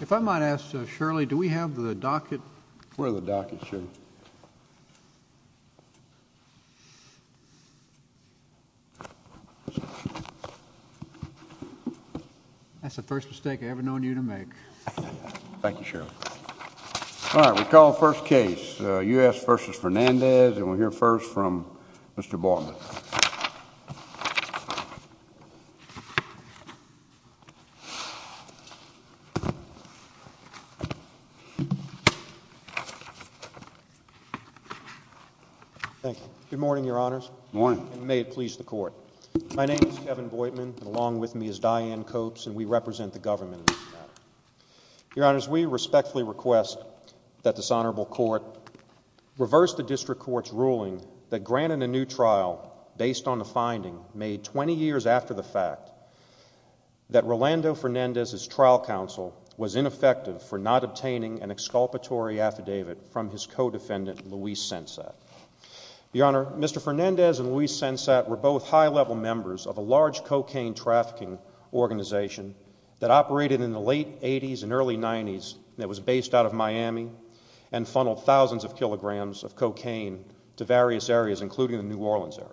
If I might ask, Shirley, do we have the docket? Where are the dockets, Shirley? That's the first mistake I've ever known you to make. Thank you, Shirley. All right, we call the first case, U.S. v. Fernandez, and we'll hear first from Mr. Boydman. Good morning, Your Honors. May it please the Court. My name is Kevin Boydman, and along with me is Diane Copes, and we represent the government in this matter. Your Honors, we respectfully request that this Honorable Court reverse the District Court's ruling that granted a new trial based on the finding made 20 years after the fact that Rolando Fernandez's trial counsel was ineffective for not obtaining an exculpatory affidavit from his co-defendant, Luis Sensat. Your Honor, Mr. Fernandez and Luis Sensat were both high-level members of a large cocaine trafficking organization that operated in the late 80s and early 90s that was based out of Miami and funneled thousands of kilograms of cocaine to various areas, including the New Orleans area.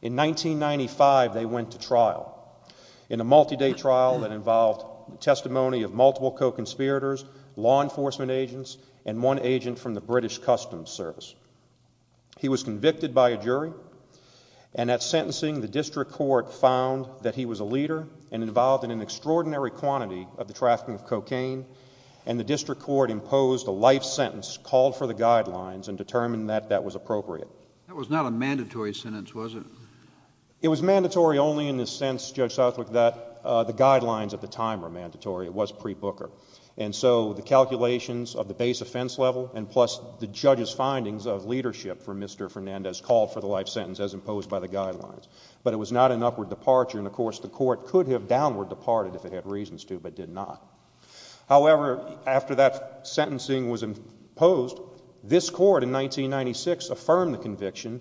In 1995, they went to trial in a multi-day trial that involved testimony of multiple co-conspirators, law enforcement agents, and one agent from the British Customs Service. He was convicted by a jury, and at sentencing, the District Court found that he was a leader and involved in an extraordinary quantity of the trafficking of cocaine, and the District Court imposed a life sentence, called for the guidelines, and determined that that was appropriate. That was not a mandatory sentence, was it? It was mandatory only in the sense, Judge Southwick, that the guidelines at the time were mandatory. It was pre-Booker. And so the calculations of the base offense level and plus the judge's findings of leadership for Mr. Fernandez called for the life sentence as imposed by the guidelines. But it was not an upward departure, and of course, the Court could have downward departed if it had reasons to, but did not. However, after that sentencing was imposed, this Court in 1996 affirmed the conviction,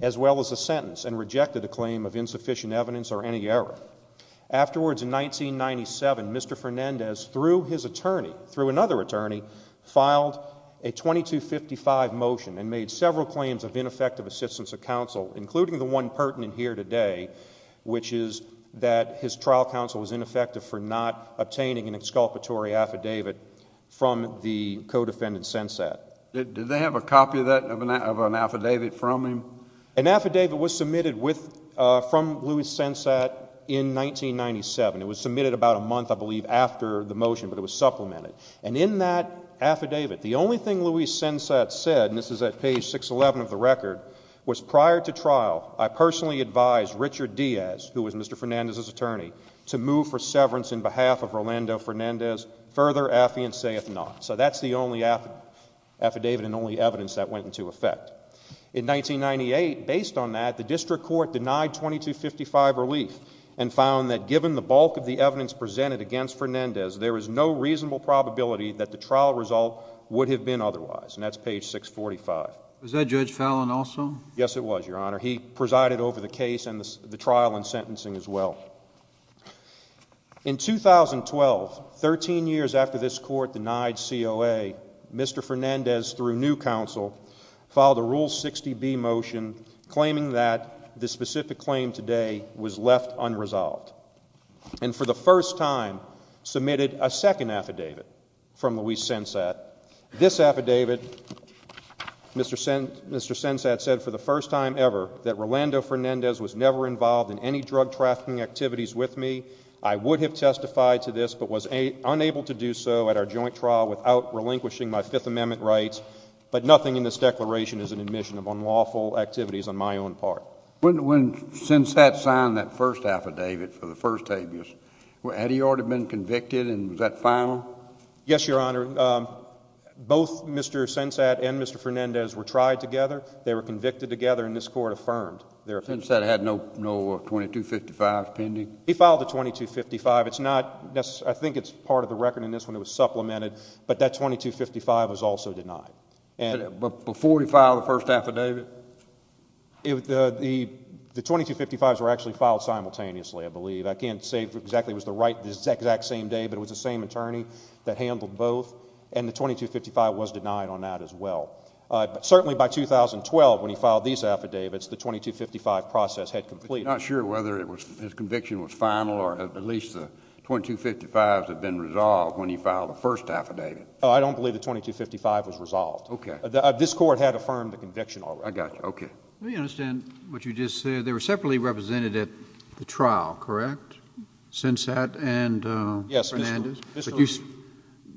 as well as the sentence, and rejected a claim of insufficient evidence or any error. Afterwards, in 1997, Mr. Fernandez, through his attorney, through another attorney, filed a 2255 motion and made several claims of ineffective assistance of counsel, including the one pertinent here today, which is that his trial counsel was ineffective for not obtaining an exculpatory affidavit from the co-defendant Sensat. Did they have a copy of that, of an affidavit from him? An affidavit was submitted with, from Luis Sensat in 1997. It was submitted about a month, I believe, after the motion, but it was supplemented. And in that affidavit, the only thing Luis Sensat said, and this is at page 611 of the record, was prior to trial, I personally advised Richard Diaz, who was Mr. Fernandez's attorney, to move for severance in behalf of Rolando Fernandez, further affiance if not. So that's the only affidavit and only evidence that went into effect. In 1998, based on that, the District Court denied 2255 relief and found that given the bulk of the evidence presented against Fernandez, there is no reasonable probability that the trial result would have been otherwise. And that's page 645. Was that Judge Fallon also? Yes, it was, Your Honor. He presided over the case and the trial and sentencing as well. In 2012, 13 years after this Court denied COA, Mr. Fernandez, through new counsel, filed a Rule 60B motion claiming that the specific claim today was left unresolved. And for the first time, submitted a second affidavit from Luis Sensat. This affidavit, Mr. Sensat said for the first time ever that Rolando Fernandez was never involved in any drug trafficking activities with me. I would have testified to this but was unable to do so at our joint trial without relinquishing my Fifth Amendment rights. But nothing in this declaration is an admission of unlawful activities on my own part. When Sensat signed that first affidavit for the first time, had he already been convicted and was that final? Yes, Your Honor. Both Mr. Sensat and Mr. Fernandez were tried together. They were convicted together and this Court affirmed their offense. Sensat had no 2255s pending? He filed a 2255. I think it's part of the record in this one. It was supplemented. But that 2255 was also denied. Before he filed the first affidavit? The 2255s were actually filed simultaneously, I believe. I can't say exactly it was the exact same day but it was the same attorney that handled both and the 2255 was denied on that as well. Certainly by 2012 when he filed these affidavits, the 2255 process had completed. I'm not sure whether his conviction was final or at least the 2255s had been resolved when he filed the first affidavit. I don't believe the 2255 was resolved. This Court had affirmed the conviction already. I got you. It was a trial, correct? Sensat and Fernandez? Yes.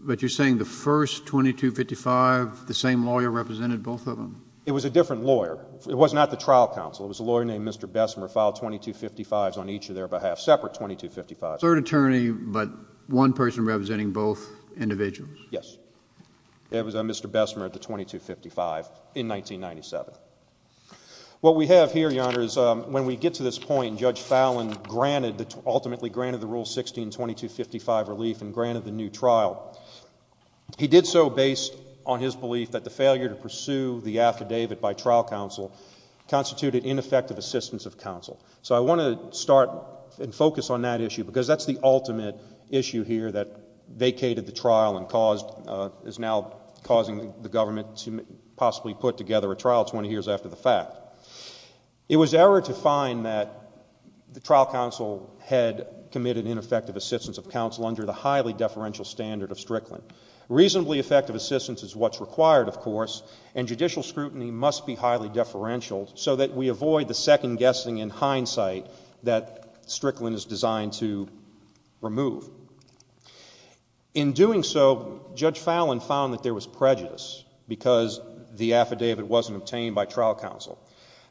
But you're saying the first 2255, the same lawyer represented both of them? It was a different lawyer. It was not the trial counsel. It was a lawyer named Mr. Bessemer filed 2255s on each of their behalf. Separate 2255s. Third attorney but one person representing both individuals? Yes. It was Mr. Bessemer at the 2255 in 1997. What we have here, Your Honor, is when we get to this point, Judge Fallon granted, ultimately granted the Rule 16 2255 relief and granted the new trial. He did so based on his belief that the failure to pursue the affidavit by trial counsel constituted ineffective assistance of counsel. So I want to start and focus on that issue because that's the ultimate issue here that vacated the trial and caused, is now causing the government to possibly put together a trial 20 years after the fact. It was error to find that the trial counsel had committed ineffective assistance of counsel under the highly deferential standard of Strickland. Reasonably effective assistance is what's required, of course, and judicial scrutiny must be highly deferential so that we avoid the second guessing in hindsight that Strickland is designed to remove. In doing so, Judge Fallon found that there was prejudice because the affidavit wasn't obtained by trial counsel.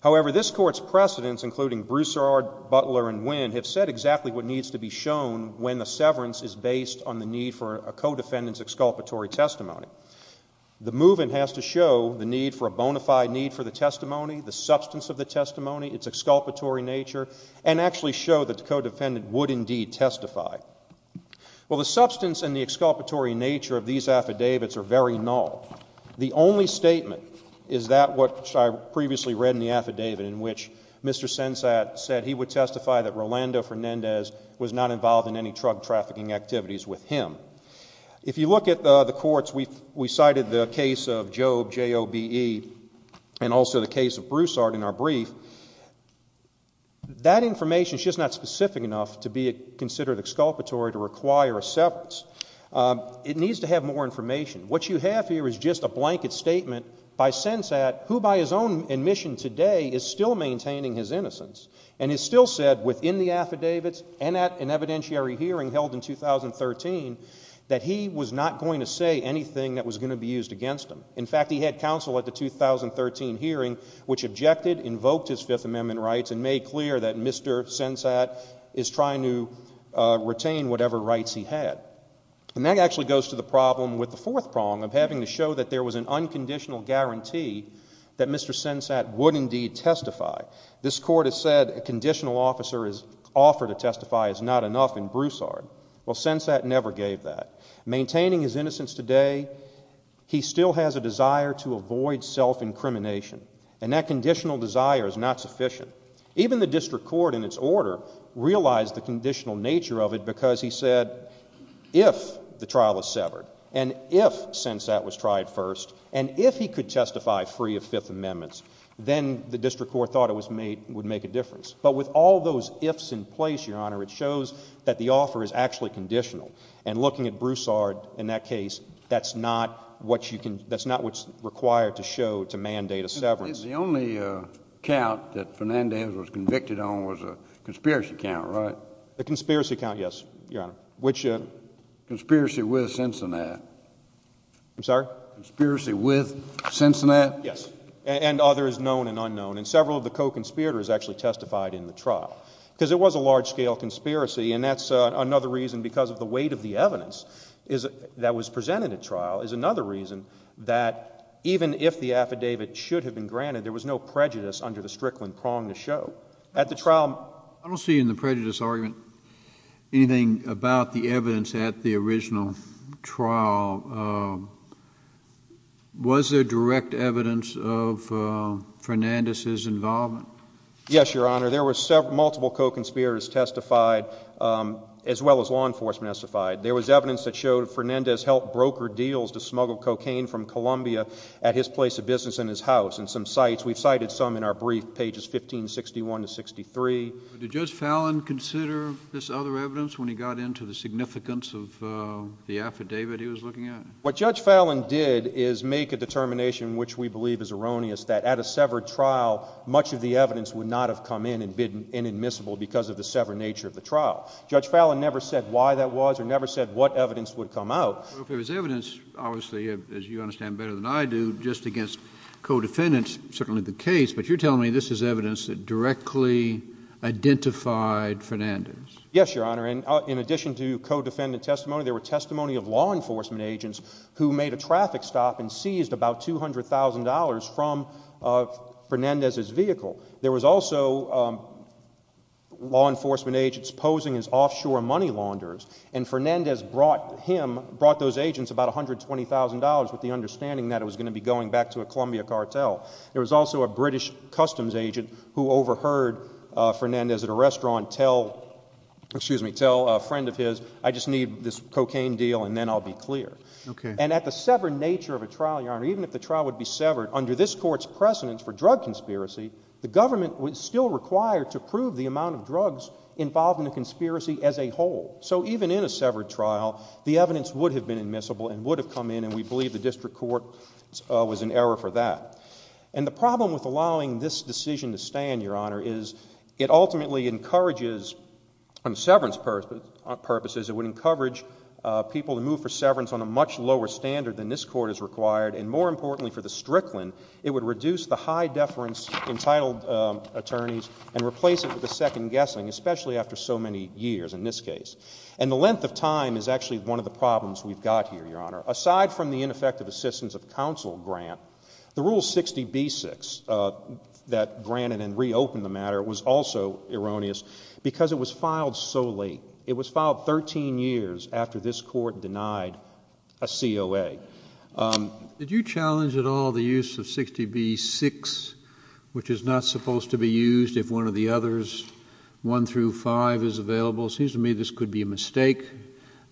However, this Court's precedents, including Broussard, Butler, and Winn, have said exactly what needs to be shown when the severance is based on the need for a co-defendant's exculpatory testimony. The move-in has to show the need for a bona fide need for the testimony, the substance of the testimony, its exculpatory nature, and actually show that the co-defendant would indeed testify. Well, the substance and the exculpatory nature of these affidavits are very null. The only statement is that which I previously read in the affidavit in which Mr. Sensat said he would testify that Rolando Fernandez was not involved in any drug trafficking activities with him. If you look at the courts, we cited the case of Jobe, J-O-B-E, and also the case of Broussard in our brief. That information is just not specific enough to be considered exculpatory to require a severance. It needs to have more information. What you have here is just a blanket statement by Sensat, who by his own admission today is still maintaining his innocence, and has still said within the affidavits and at an evidentiary hearing held in 2013 that he was not going to say anything that was going to be used against him. In fact, he had counsel at the 2013 hearing which objected, invoked his Fifth Amendment rights, and made clear that Mr. Sensat is trying to retain whatever rights he had. And that actually goes to the problem with the fourth prong of having to show that there was an unconditional guarantee that Mr. Sensat would indeed testify. This Court has said a conditional officer is offered to testify is not enough in Broussard. Well, Sensat never gave that. Maintaining his innocence today, he still has a desire to avoid self-incrimination, and that conditional desire is not sufficient. Even the district court in its order realized the conditional nature of it because he said if the trial is severed, and if Sensat was tried first, and if he could testify free of Fifth Amendments, then the district court thought it would make a difference. But with all those ifs in place, Your Honor, it shows that the offer is actually conditional. And looking at Broussard in that case, that's not what you can, that's not what's required to show to mandate a severance. The only count that Fernandez was convicted on was a conspiracy count, right? The conspiracy count, yes, Your Honor. Which, uh? Conspiracy with Sensat. I'm sorry? Conspiracy with Sensat? Yes. And others, known and unknown. And several of the co-conspirators actually testified in the trial. Because it was a large-scale conspiracy, and that's another reason because of the weight of the evidence that was presented at trial is another reason that even if the case was granted, there was no prejudice under the Strickland prong to show. At the trial— I don't see in the prejudice argument anything about the evidence at the original trial. Was there direct evidence of Fernandez's involvement? Yes, Your Honor. There were several, multiple co-conspirators testified, as well as law enforcement testified. There was evidence that showed Fernandez helped broker deals to smuggle cocaine from Columbia at his place of business in his house. And some sites, we've cited some in our brief, pages 1561 to 63. Did Judge Fallin consider this other evidence when he got into the significance of the affidavit he was looking at? What Judge Fallin did is make a determination, which we believe is erroneous, that at a severed trial, much of the evidence would not have come in and been inadmissible because of the severed nature of the trial. Judge Fallin never said why that was or never said what evidence would come out. There was evidence, obviously, as you understand better than I do, just against co-defendants, certainly the case. But you're telling me this is evidence that directly identified Fernandez. Yes, Your Honor. And in addition to co-defendant testimony, there were testimony of law enforcement agents who made a traffic stop and seized about $200,000 from Fernandez's vehicle. There was also law enforcement agents posing as offshore money launderers, and Fernandez brought those agents about $120,000 with the understanding that it was going to be going back to a Columbia cartel. There was also a British customs agent who overheard Fernandez at a restaurant tell a friend of his, I just need this cocaine deal and then I'll be clear. And at the severed nature of a trial, Your Honor, even if the trial would be severed, under this Court's precedence for drug conspiracy, the government was still required to prove the amount of drugs involved in the conspiracy as a whole. So even in a severed trial, the evidence would have been admissible and would have come in, and we believe the district court was in error for that. And the problem with allowing this decision to stand, Your Honor, is it ultimately encourages on severance purposes, it would encourage people to move for severance on a much lower standard than this Court has required, and more importantly for the Strickland, it would reduce the high deference entitled attorneys and replace it with a second guessing, especially after so many years in this case. And the length of time is actually one of the problems we've got here, Your Honor. Aside from the ineffective assistance of counsel grant, the Rule 60b-6 that granted and reopened the matter was also erroneous because it was filed so late. It was filed 13 years after this Court denied a COA. Did you challenge at all the use of 60b-6, which is not supposed to be used if one of the others, 1 through 5, is available? It seems to me this could be a mistake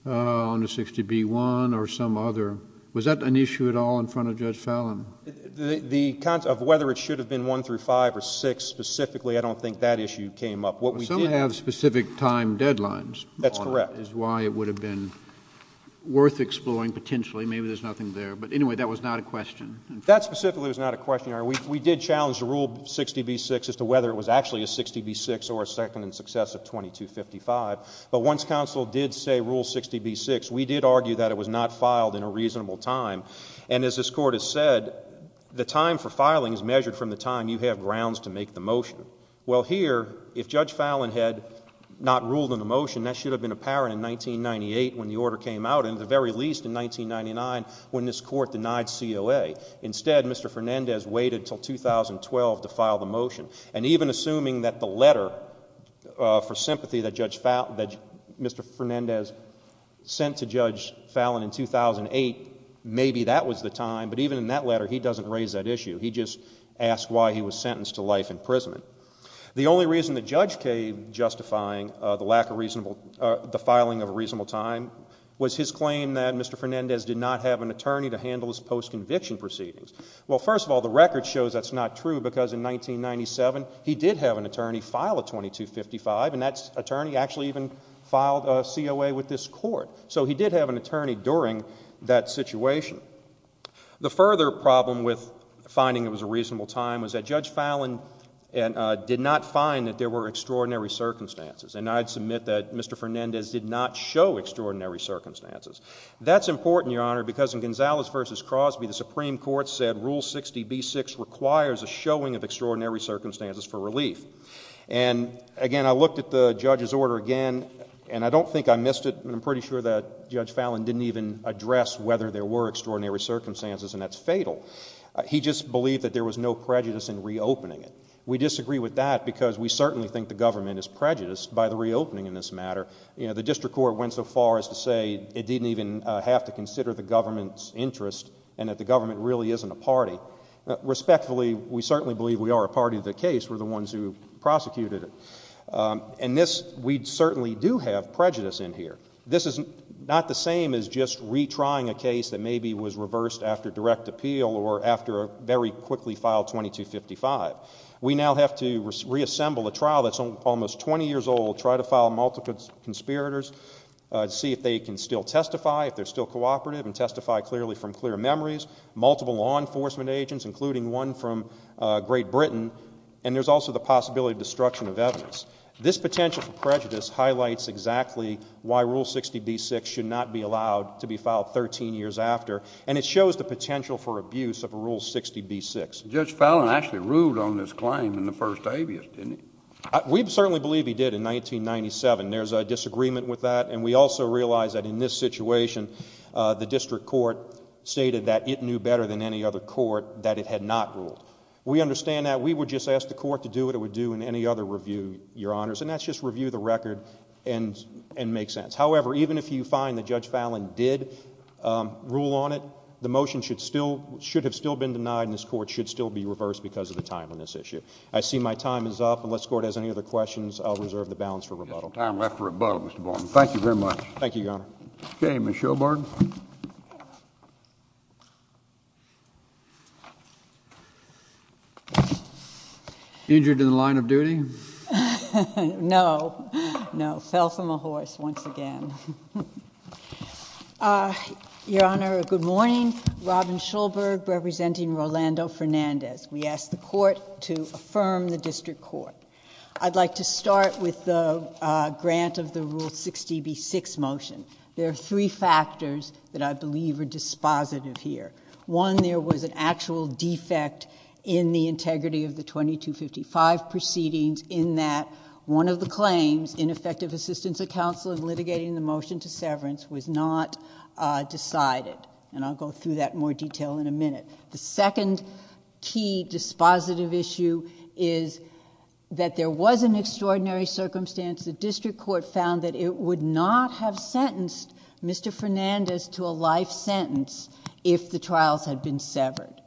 on a 60b-1 or some other. Was that an issue at all in front of Judge Fallin? The concept of whether it should have been 1 through 5 or 6 specifically, I don't think that issue came up. Well, some have specific time deadlines. That's correct. That is why it would have been worth exploring potentially. Maybe there's nothing there. But anyway, that was not a question. That specifically was not a question, Your Honor. We did challenge the Rule 60b-6 as to whether it was actually a 60b-6 or a second in success of 2255. But once counsel did say Rule 60b-6, we did argue that it was not filed in a reasonable time. And as this Court has said, the time for filing is measured from the time you have grounds to make the motion. Well, here, if Judge Fallin had not ruled in the motion, that should have been apparent in 1998 when the order came out, and at the very least in 1999 when this Court denied COA. Instead, Mr. Fernandez waited until 2012 to file the motion. And even assuming that the letter for sympathy that Mr. Fernandez sent to Judge Fallin in 2008, maybe that was the time. But even in that letter, he doesn't raise that issue. He just asks why he was held prison. The only reason the judge came justifying the lack of reasonable, the filing of a reasonable time was his claim that Mr. Fernandez did not have an attorney to handle his post-conviction proceedings. Well, first of all, the record shows that's not true because in 1997, he did have an attorney file a 2255, and that attorney actually even filed a COA with this Court. So he did have an attorney during that situation. The further problem with finding it was a reasonable time was that Judge Fallin did not find that there were extraordinary circumstances, and I'd submit that Mr. Fernandez did not show extraordinary circumstances. That's important, Your Honor, because in Gonzalez v. Crosby, the Supreme Court said Rule 60b-6 requires a showing of extraordinary circumstances for relief. And again, I looked at the judge's order again, and I don't think I missed it, but I'm pretty sure that Judge Fallin didn't even address whether there were extraordinary circumstances, and that's fatal. He just believed that there was no prejudice in reopening it. We disagree with that because we certainly think the government is prejudiced by the reopening in this matter. You know, the District Court went so far as to say it didn't even have to consider the government's interest and that the government really isn't a party. Respectfully, we certainly believe we are a party to the case. We're the ones who prosecuted it. And this, we certainly do have prejudice in here. This is not the same as just retrying a case that maybe was reversed after direct appeal or after a very quickly filed 2255. We now have to reassemble a trial that's almost 20 years old, try to file multiple conspirators, see if they can still testify, if they're still cooperative and testify clearly from clear memories, multiple law enforcement agents, including one from Great Britain, and there's also the possibility of destruction of evidence. This potential for prejudice highlights exactly why Rule 60b-6 should not be allowed to be filed 13 years after, and it shows the potential for abuse of Rule 60b-6. Judge Fallin actually ruled on this claim in the first abuse, didn't he? We certainly believe he did in 1997. There's a disagreement with that, and we also realize that in this situation, the District Court stated that it knew better than any other court to do what it would do in any other review, Your Honors, and that's just review the record and make sense. However, even if you find that Judge Fallin did rule on it, the motion should have still been denied, and this Court should still be reversed because of the timeliness issue. I see my time is up. Unless the Court has any other questions, I'll reserve the balance for rebuttal. There's no time left for rebuttal, Mr. Baldwin. Thank you very much. Thank you, Your Honor. Okay, Ms. Shobart. Injured in the line of duty? No. No, fell from a horse once again. Your Honor, good morning. Robin Schulberg representing Rolando Fernandez. We ask the Court to affirm the District Court. I'd like to start with the grant of the Rule 60b-6 motion. There are three factors that I believe are dispositive here. One, there was an actual defect in the integrity of the 2255 proceedings in that one of the claims in effective assistance of counsel in litigating the motion to severance was not decided, and I'll go through that in more detail in a minute. The second key dispositive issue is that there was an extraordinary circumstance. The District Court found that it would not have sentenced Mr. Fernandez to a life sentence if the trials had been severed,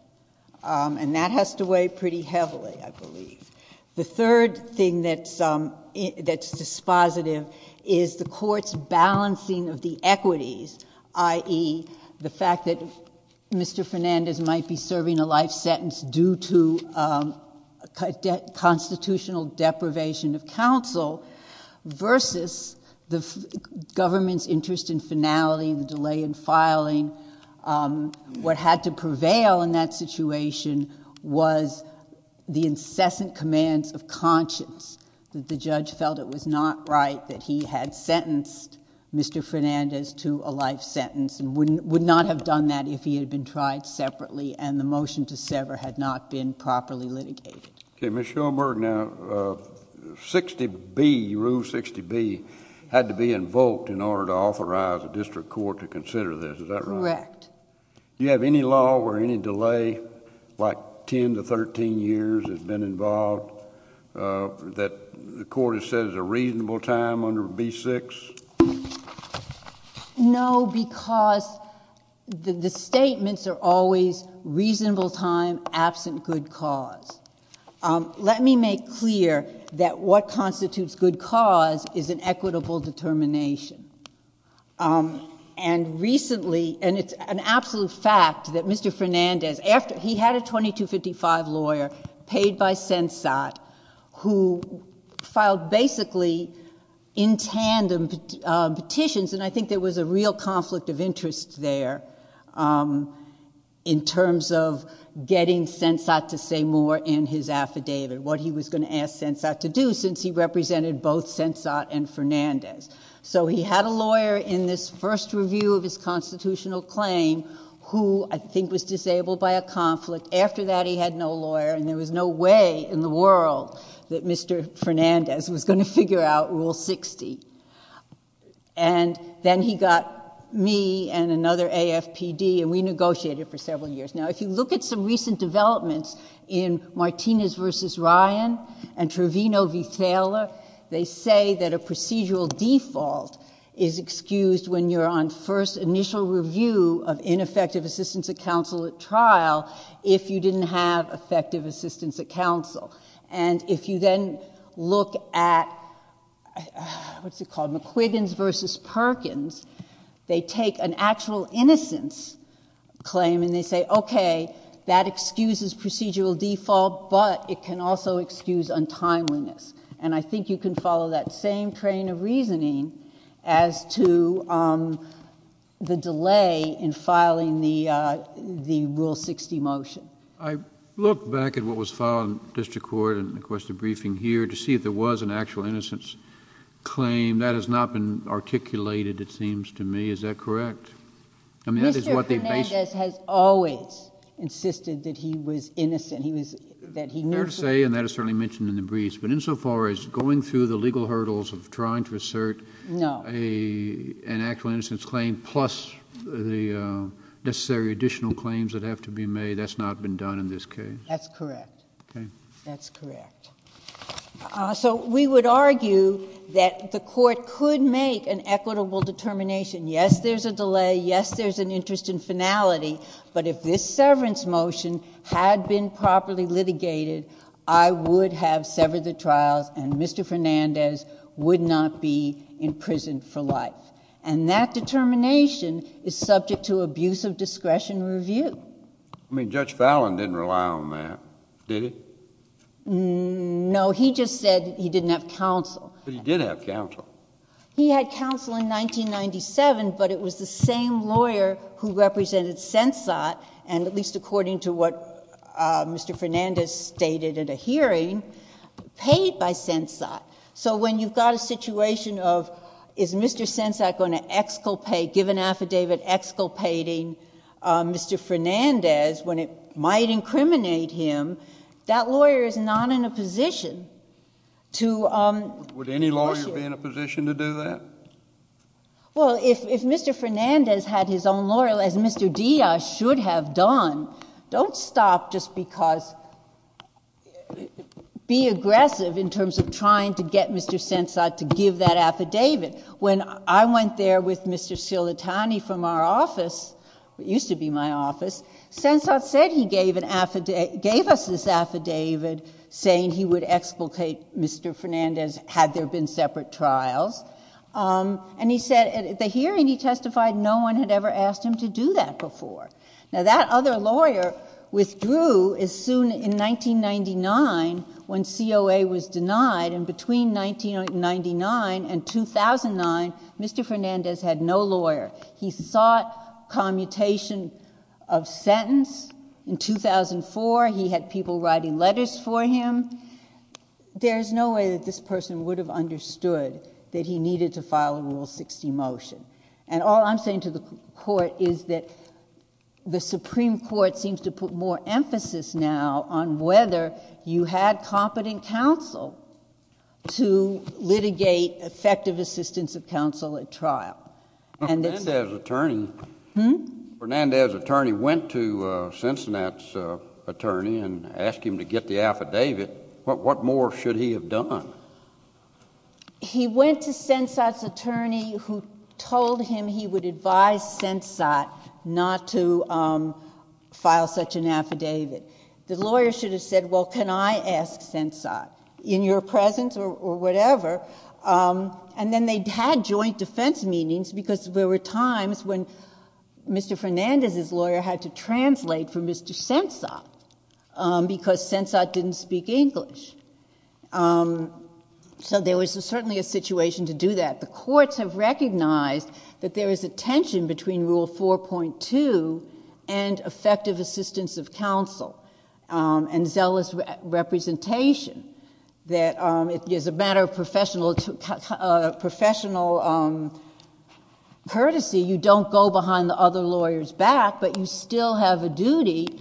and that has to weigh pretty heavily, I believe. The third thing that's dispositive is the Court's balancing of the equities, i.e., the fact that Mr. Fernandez might be subject to constitutional deprivation of counsel versus the government's interest in finality, the delay in filing. What had to prevail in that situation was the incessant commands of conscience that the judge felt it was not right that he had sentenced Mr. Fernandez to a life sentence and would not have done that if he had been tried separately and the motion to sever had not been properly litigated. Okay. Ms. Schoenberg, now, 60B, Rule 60B, had to be invoked in order to authorize the District Court to consider this. Is that right? Correct. Do you have any law where any delay, like ten to thirteen years, has been involved that the Court has said is a reasonable time under B6? No, because the statements are always reasonable time absent good cause. Let me make clear that what constitutes good cause is an equitable determination. And recently, and it's an absolute fact that Mr. Fernandez, he had a 2255 lawyer paid by Sensat who filed basically in tandem petitions and I think there was a real conflict of interest there in terms of getting Sensat to say more in his affidavit, what he was going to ask Sensat to do since he represented both Sensat and Fernandez. So he had a lawyer in this first review of his constitutional claim who I think was disabled by a conflict. After that, he had no lawyer and there was no way in the world that Mr. Fernandez was going to figure out Rule 60. And then he got me and another AFPD and we negotiated for several years. Now, if you look at some recent developments in Martinez v. Ryan and Trevino v. Taylor, they say that a procedural default is excused when you're on first initial review of ineffective assistance at counsel at trial if you didn't have effective assistance at counsel. And if you then look at McQuiggins v. Perkins, they take an actual innocence claim and they say, okay, that excuses procedural default, but it can also excuse untimeliness. And I think you can follow that same train of reasoning as to the delay in filing the Rule 60 motion. I look back at what was filed in district court and requested briefing here to see if there was an actual innocence claim. That has not been articulated, it seems to me. Is that correct? Mr. Fernandez has always insisted that he was innocent. Fair to say and that is certainly mentioned in the briefs. But insofar as going through the legal hurdles of trying to assert an actual innocence claim plus the necessary additional claims that have to be made, that's not been done in this case. That's correct. That's correct. So we would argue that the court could make an equitable determination. Yes, there's a delay. Yes, there's an interest in finality. But if this had severed the trials and Mr. Fernandez would not be in prison for life. And that determination is subject to abuse of discretion review. I mean, Judge Fallon didn't rely on that, did he? No, he just said he didn't have counsel. But he did have counsel. He had counsel in 1997, but it was the same lawyer who represented Sensot and at least according to what Mr. Fernandez stated at a hearing, paid by Sensot. So when you've got a situation of is Mr. Sensot going to exculpate, give an affidavit exculpating Mr. Fernandez when it might incriminate him, that lawyer is not in a position to negotiate. Would any lawyer be in a position to do that? Well, if Mr. Fernandez had his own lawyer, as Mr. Diaz should have done, don't stop just because, be aggressive in terms of trying to get Mr. Sensot to give that affidavit. When I went there with Mr. Sillitani from our office, it used to be my office, Sensot said he gave us this affidavit saying he would exculpate Mr. Fernandez had there been separate trials and he said at the hearing he testified no one had ever asked him to do that before. Now that other lawyer withdrew as soon in 1999 when COA was denied and between 1999 and 2009, Mr. Fernandez had no lawyer. He sought commutation of sentence. In 2004, he had people writing letters for him. There's no way that this person would have understood that he needed to file a Rule 60 motion. All I'm saying to the Court is that the Supreme Court seems to put more emphasis now on whether you had competent counsel to litigate effective assistance of counsel at trial.... Mr. Fernandez's attorney went to Sensot's attorney and asked him to get the affidavit. What more should he have done?... He went to Sensot's attorney who told him he would advise Sensot not to file such an affidavit. The lawyer should have said, well, can I ask Sensot in your presence or whatever. Then they had joint defense meetings because there were times when Mr. Fernandez's lawyer had to translate for Mr. Sensot because Sensot didn't speak English. There was certainly a situation to do that. The courts have recognized that there is a tension between Rule 4.2 and effective assistance of counsel and zealous representation. As a matter of professional courtesy, you don't go behind the other lawyer's back, but you still have a duty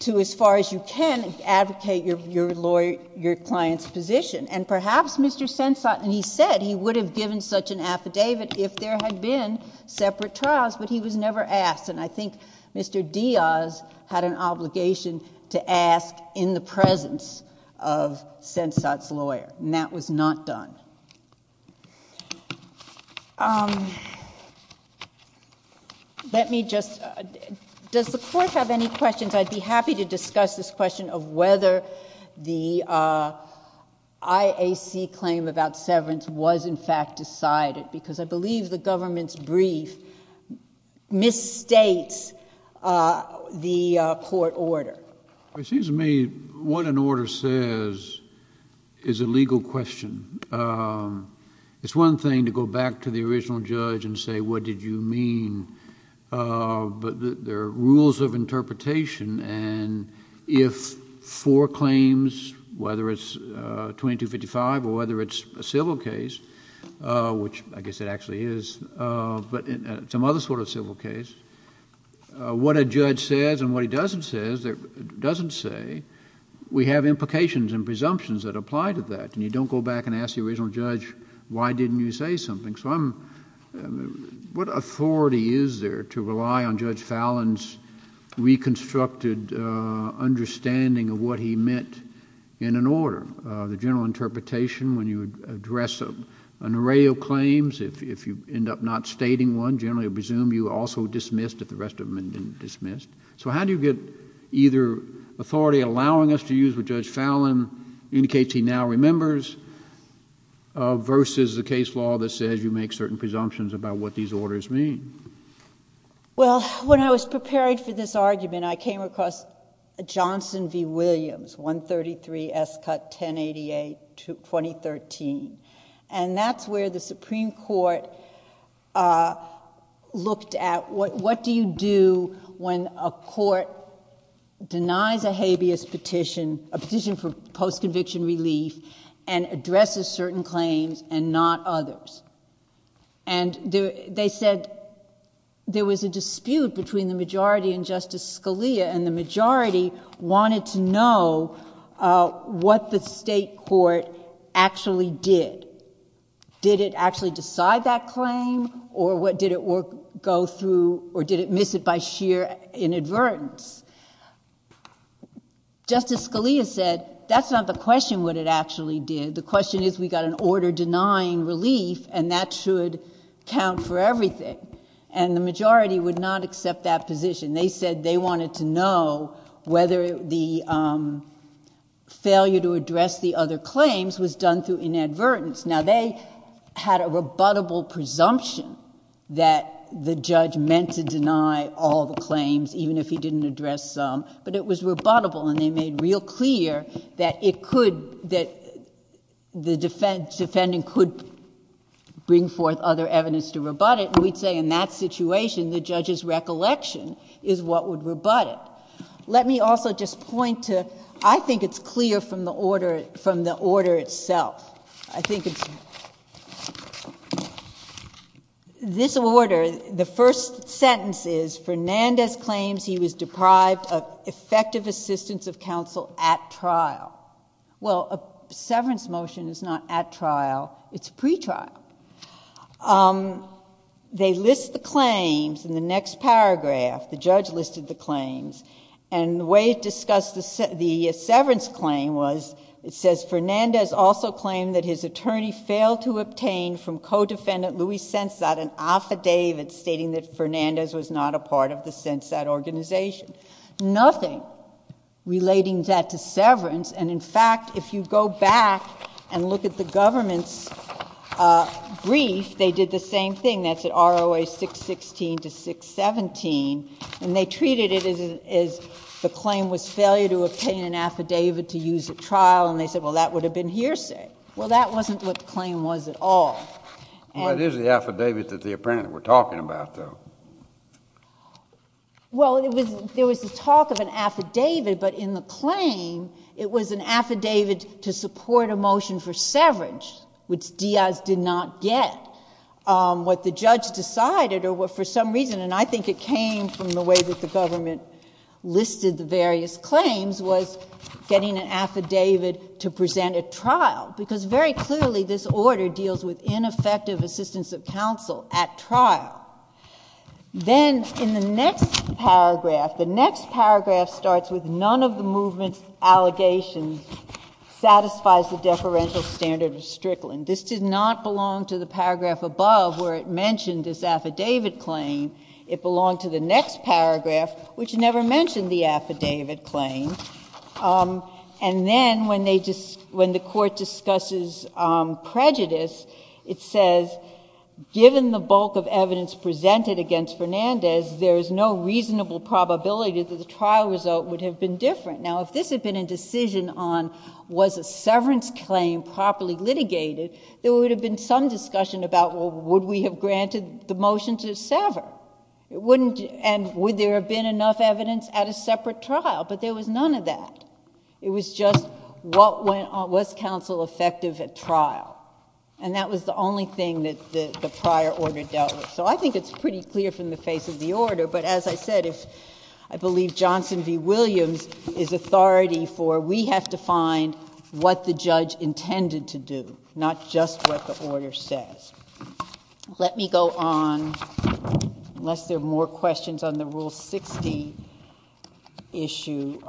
to, as far as you can, advocate your client's position. Perhaps Mr. Sensot... he said he would have given such an affidavit if there had been separate trials, but he was never asked. I think Mr. Diaz had an obligation to ask in the presence of Sensot's lawyer, and that was not done. Let me just... does the Court have any questions? I'd be happy to discuss this question of whether the IAC claim about severance was, in fact, decided because I believe the government's the court order. It seems to me what an order says is a legal question. It's one thing to go back to the original judge and say, what did you mean, but there are rules of interpretation, and if four claims, whether it's 2255 or whether it's a civil case, which I guess it actually is, but some other sort of civil case, what a judge says and what he doesn't say, we have implications and presumptions that apply to that, and you don't go back and ask the original judge, why didn't you say something? What authority is there to rely on Judge Fallon's reconstructed understanding of what he meant in an order? The general interpretation when you address an array of claims, if you end up not stating one, generally I presume you also dismissed if the rest of them have been dismissed, so how do you get either authority allowing us to use what Judge Fallon indicates he now remembers versus a case law that says you make certain presumptions about what these orders mean? Well, when I was preparing for this argument, I came across Johnson v. Williams, 133 S. 188, 2013, and that's where the Supreme Court looked at what do you do when a court denies a habeas petition, a petition for post-conviction relief, and addresses certain claims and not others, and they said there was a dispute between the majority and Justice Scalia, and the majority wanted to know what the state court actually did. Did it actually decide that claim, or what did it go through, or did it miss it by sheer inadvertence? Justice Scalia said, that's not the question, what it actually did. The question is we got an order denying relief, and that should count for everything, and the majority would not know whether the failure to address the other claims was done through inadvertence. Now, they had a rebuttable presumption that the judge meant to deny all the claims, even if he didn't address some, but it was rebuttable, and they made real clear that it could, that the defendant could bring forth other evidence to rebut it, and we'd say in that situation, the judge's recollection is what would rebut it. Let me also just point to, I think it's clear from the order, from the order itself. I think it's, this order, the first sentence is Fernandez claims he was deprived of effective assistance of counsel at trial. Well, a severance motion is not at trial, it's pre-trial. They list the claims in the next paragraph, the judge listed the claims, and the way it discussed the severance claim was, it says Fernandez also claimed that his attorney failed to obtain from co-defendant Luis Sensat an affidavit stating that Fernandez was not a part of the Sensat organization. Nothing relating that to severance, and in fact, if you go back and look at the government's brief, they did the same thing. That's at ROA 616 to 617, and they treated it as the claim was failure to obtain an affidavit to use at trial, and they said, well, that would have been hearsay. Well, that wasn't what the claim was at all. Well, it is the affidavit that the apprentice were talking about, though. Well, there was the talk of an affidavit, but in the claim, it was an affidavit to support a motion for severance, which Diaz did not get. What the judge decided, or for some reason, and I think it came from the way that the government listed the various claims, was getting an affidavit to present at trial, because very clearly, this order deals with Then in the next paragraph, the next paragraph starts with none of the movement's allegations satisfies the deferential standard of Strickland. This did not belong to the paragraph above where it mentioned this affidavit claim. It belonged to the next paragraph, which never mentioned the affidavit claim, and then when they just, when the court discusses prejudice, it says, given the bulk of evidence presented against Fernandez, there is no reasonable probability that the trial result would have been different. Now, if this had been a decision on was a severance claim properly litigated, there would have been some discussion about, well, would we have granted the motion to sever? And would there have been enough evidence at a separate trial? But there was none of that. It was just what went on, was counsel effective at trial, and that was the only thing that the prior order dealt with. So I think it's pretty clear from the face of the order, but as I said, if I believe Johnson v. Williams is authority for, we have to find what the judge intended to do, not just what the order says. Let me go on, unless there are more questions on the Rule 60 issue.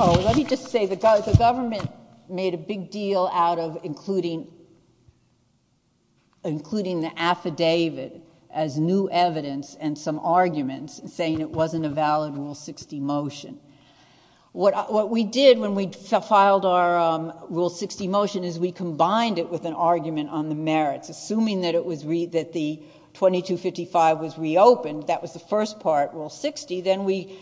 Oh, let me just say, the government made a big deal out of including the affidavit as new evidence and some arguments, saying it wasn't a valid Rule 60 motion. What we did when we filed our Rule 60 motion is we combined it with an argument on the merits, assuming that the 2255 was reopened, that was the first part, Rule 60, then we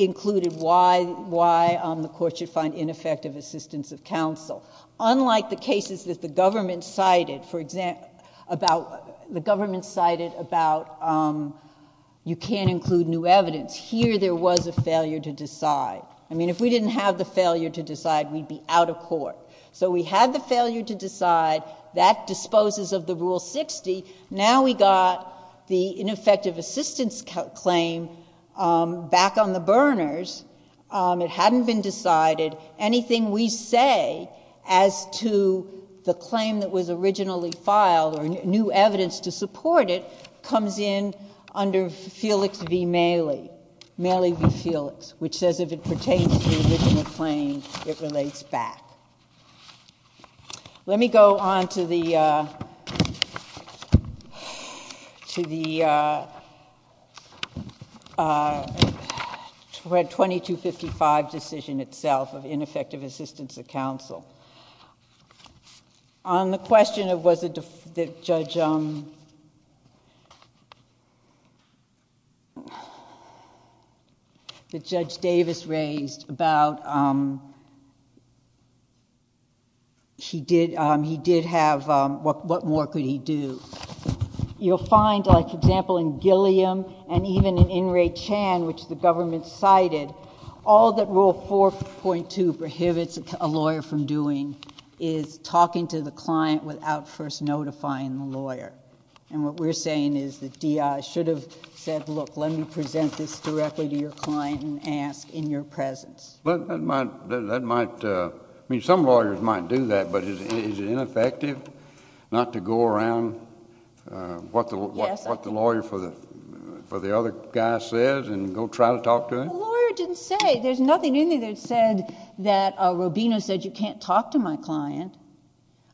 included why the court should find ineffective assistance of counsel. Unlike the cases that the government cited, for example, about, the government cited about you can't include new evidence, here there was a failure to decide. I mean, if we didn't have the failure to decide, we'd be out of Rule 60. Now we got the ineffective assistance claim back on the burners. It hadn't been decided. Anything we say as to the claim that was originally filed or new evidence to support it comes in under Felix v. Maley, Maley v. Felix, which says if it pertains to the original claim, it relates back. Let me go on to the 2255 decision itself of ineffective assistance of counsel. On the other hand, he did have... what more could he do? You'll find, for example, in Gilliam and even in In re Chan, which the government cited, all that Rule 4.2 prohibits a lawyer from doing is talking to the client without first notifying the lawyer. What we're saying is that D.I. should have said, look, let me present this directly to your client and ask in your presence. That might... I mean, some lawyers might do that, but is it ineffective not to go around what the lawyer for the other guy says and go try to talk to him? The lawyer didn't say. There's nothing in there that said that Robino said you can't talk to my client.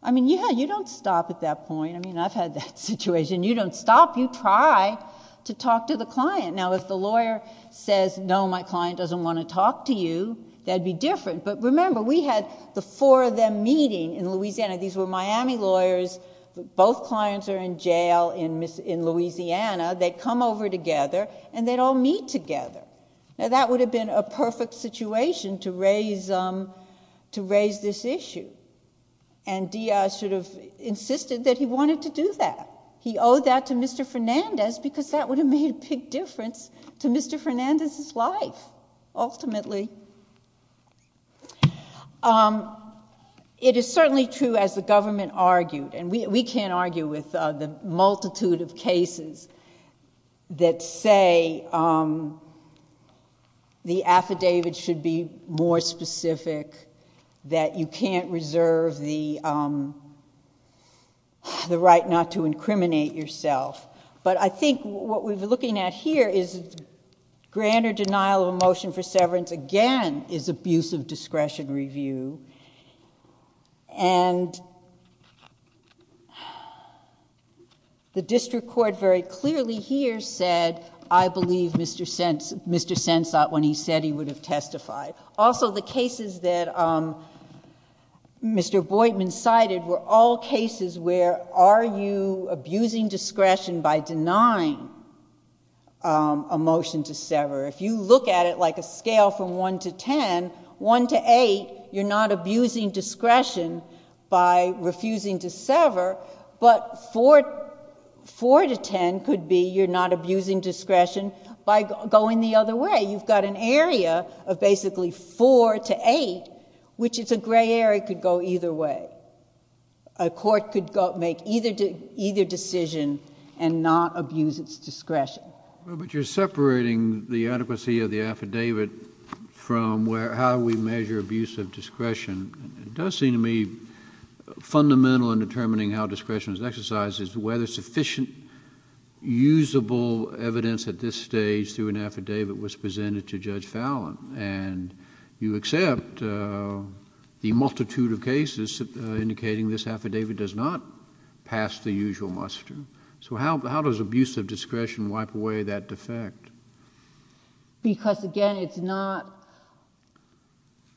I mean, yeah, you don't stop at that point. I mean, I've had that situation. You don't stop. You try to talk to the client. Now, if the lawyer says, no, my client doesn't want to talk to you, that'd be different. Remember, we had the four of them meeting in Louisiana. These were Miami lawyers. Both clients are in jail in Louisiana. They come over together and they'd all meet together. That would have been a perfect situation to raise this issue. D.I. insisted that he wanted to do that. He owed that to Mr. Fernandez because that would have made a big difference to Mr. Fernandez's life, ultimately. It is certainly true, as the government argued, and we can't argue with the multitude of cases that say the affidavit should be more specific, that you can't reserve the right not to incriminate yourself. I think what we're looking at here is grander denial of a motion for severance again is abuse of discretion review. The district court very clearly here said, I believe Mr. Sensott, when he said he would have testified. Also, the cases that Mr. Boydman cited were all cases where are you abusing discretion by denying a motion to sever? If you look at it like a scale from one to 10, one to eight, you're not abusing discretion by refusing to sever, but four to 10 could be you're not abusing discretion by going the other way. You've got an area of basically four to eight, which is a gray area, could go either way. A court could make either decision and not abuse its discretion. You're separating the adequacy of the affidavit from how we measure abuse of discretion. It does seem to me fundamental in determining how discretion is exercised is whether sufficient usable evidence at this stage through an affidavit was presented to Judge Fallon. You accept the multitude of cases indicating this affidavit does not pass the usual muster. How does abuse of discretion wipe away that defect? Because again,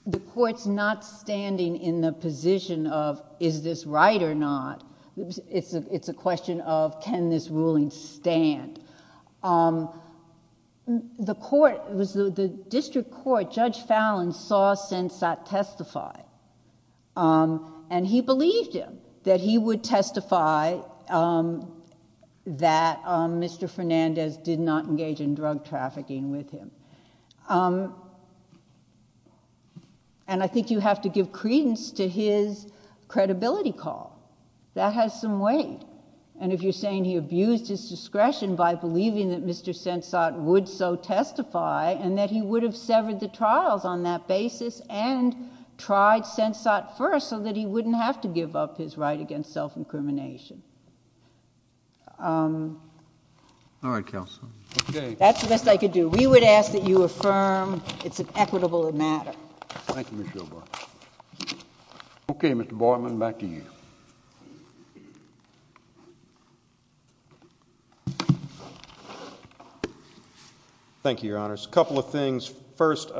the court's not standing in the position of is this right or not? It's a question of can this ruling stand? The district court, Judge Fallon saw Sensat testify. He believed him that he would testify that Mr. Fernandez did not engage in drug trafficking with him. I think you have to give credence to his credibility call. That has some weight. If you're saying he abused his discretion by believing that Mr. Sensat would so testify and that he would have severed the trials on that basis and tried Sensat first so that he wouldn't have to give up his right against self-incrimination. That's the best I could do. We would ask that you affirm it's an equitable matter. Thank you, Ms. Schillbarth. Okay, Mr. Boydman, back to you. Thank you, Your Honors. A couple of things. First,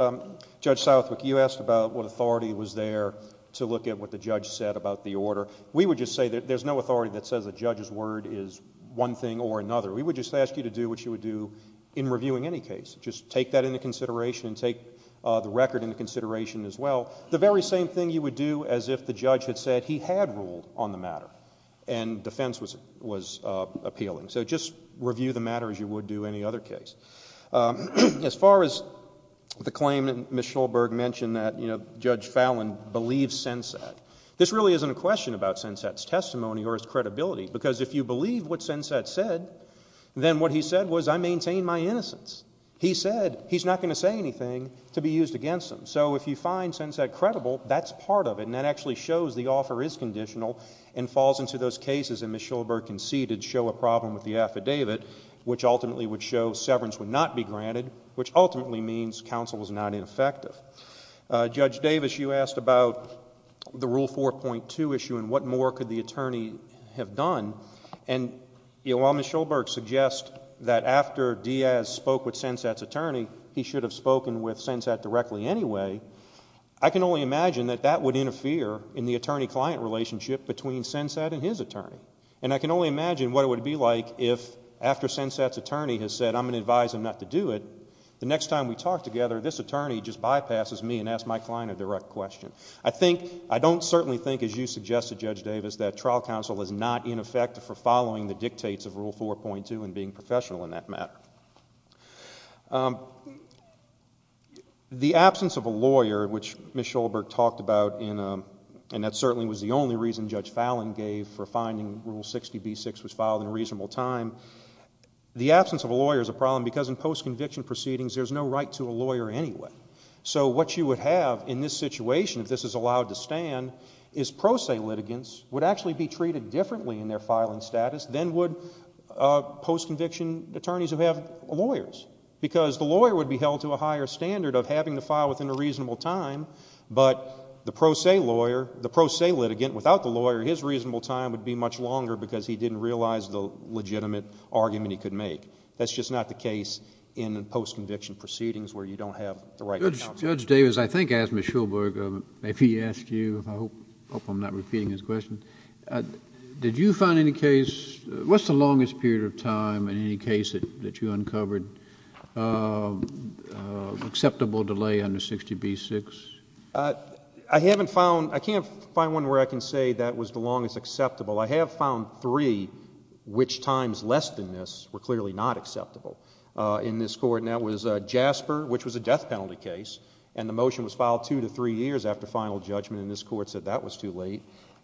Judge Southwick, you asked about what authority was there to look at what the judge said about the order. We would just say there's no authority that says a judge's word is one thing or another. We would just ask you to do what you would do in reviewing any case. Just take that into consideration and take the record into consideration as well. The very same thing you would do as if the judge had said he had ruled on the matter and defense was appealing. So just review the matter as you would do any other case. As far as the claim that Ms. Schillbarth mentioned that, you know, Judge Fallon believes Sensat. This really isn't a question about Sensat's testimony or his credibility, because if you believe what Sensat said, then what he said was, I maintain my innocence. He said he's not going to say anything to be used against him. So if you find Sensat credible, that's part of it, and that actually shows the offer is conditional and falls into those cases that Ms. Schillbarth conceded show a problem with the affidavit, which ultimately would show severance would not be granted, which ultimately means counsel was not ineffective. Judge Davis, you asked about the Rule 4.2 issue and what more could the attorney have done. And while Ms. Schillbarth suggests that after Diaz spoke with Sensat's attorney, he should have spoken with Sensat directly anyway, I can only imagine that that would interfere in the attorney client relationship between Sensat and his attorney. And I can only imagine what it would be like if after Sensat's attorney has said, I'm going to advise him not to do it, the next time we talk together, this attorney just bypasses me and asks my client a direct question. I don't certainly think, as you suggested, Judge Davis, that trial counsel is not ineffective for following the dictates of Rule 4.2 and being professional in that matter. The absence of a lawyer, which Ms. Schillbarth talked about, and that certainly was the only reason Judge Fallon gave for finding Rule 60B6 was filed in a reasonable time, the absence of a lawyer is a problem because in the end, it's a right to a lawyer anyway. So what you would have in this situation, if this is allowed to stand, is pro se litigants would actually be treated differently in their filing status than would post-conviction attorneys who have lawyers. Because the lawyer would be held to a higher standard of having to file within a reasonable time, but the pro se litigant without the lawyer, his reasonable time would be much longer because he didn't realize the legitimate argument he could make. That's just not the case in post-conviction proceedings where you don't have the right counsel. Judge Davis, I think I asked Ms. Schillbarth, if he asked you, I hope I'm not repeating his question, did you find any case, what's the longest period of time in any case that you uncovered of acceptable delay under 60B6? I haven't found, I can't find one where I can say that was the longest acceptable. I have found three which times less than this were clearly not acceptable in this court, and that was Jasper, which was a death penalty case, and the motion was filed two to three years after final judgment, and this court said that was too late.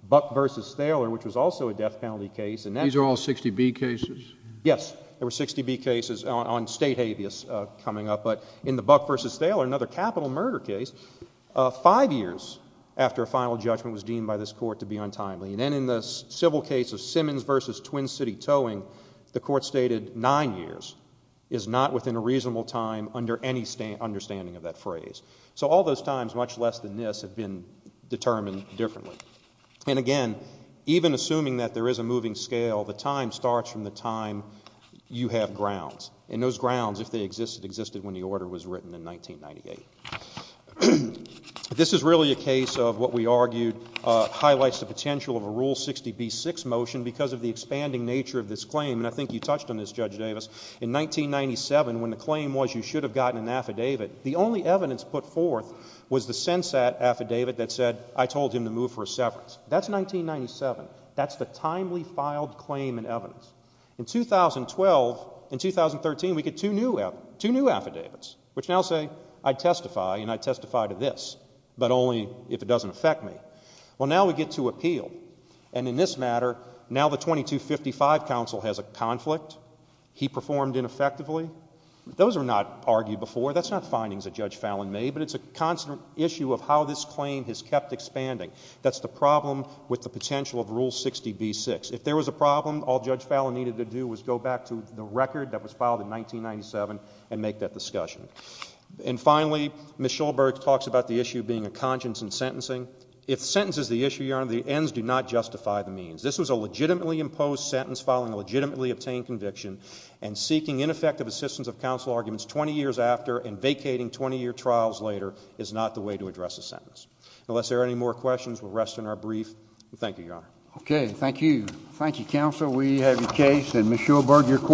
Buck v. Thaler, which was also a death penalty case. These are all 60B cases? Yes, there were 60B cases on state habeas coming up, but in the Buck v. Thaler, another capital murder case, five years after a final judgment was deemed by this court to be untimely, and then in the civil case of Simmons v. Twin City Towing, the court stated nine years is not within a reasonable time under any understanding of that phrase. So all those times, much less than this, have been determined differently, and again, even assuming that there is a moving scale, the time starts from the time you have grounds, and those grounds, if they existed, existed when the order was written in 1998. This is really a case of what we argued highlights the potential of a Rule 60B-6 motion because of the expanding nature of this claim, and I think you touched on this, Judge Davis. In 1997, when the claim was you should have gotten an affidavit, the only evidence put forth was the Sensat affidavit that said I told him to move for a severance. That's 1997. That's the timely filed claim in evidence. In 2012, in 2013, we get two new affidavits, which now say I testify, and I testify to this, but only if it doesn't affect me. Well, now we get to appeal, and in this matter, now the 2255 counsel has a conflict. He performed ineffectively. Those were not argued before. That's not findings that Judge Fallon made, but it's a constant issue of how this If there was a problem, all Judge Fallon needed to do was go back to the record that was filed in 1997 and make that discussion, and finally, Ms. Schulberg talks about the issue being a conscience in sentencing. If sentence is the issue, Your Honor, the ends do not justify the means. This was a legitimately imposed sentence following a legitimately obtained conviction, and seeking ineffective assistance of counsel arguments 20 years after and vacating 20-year trials later is not the way to address a sentence. Unless there are any more questions, we'll rest in our brief. Thank you, Your Honor. Okay, thank you. Thank you, counsel. We have your case, and Ms. Schulberg, your court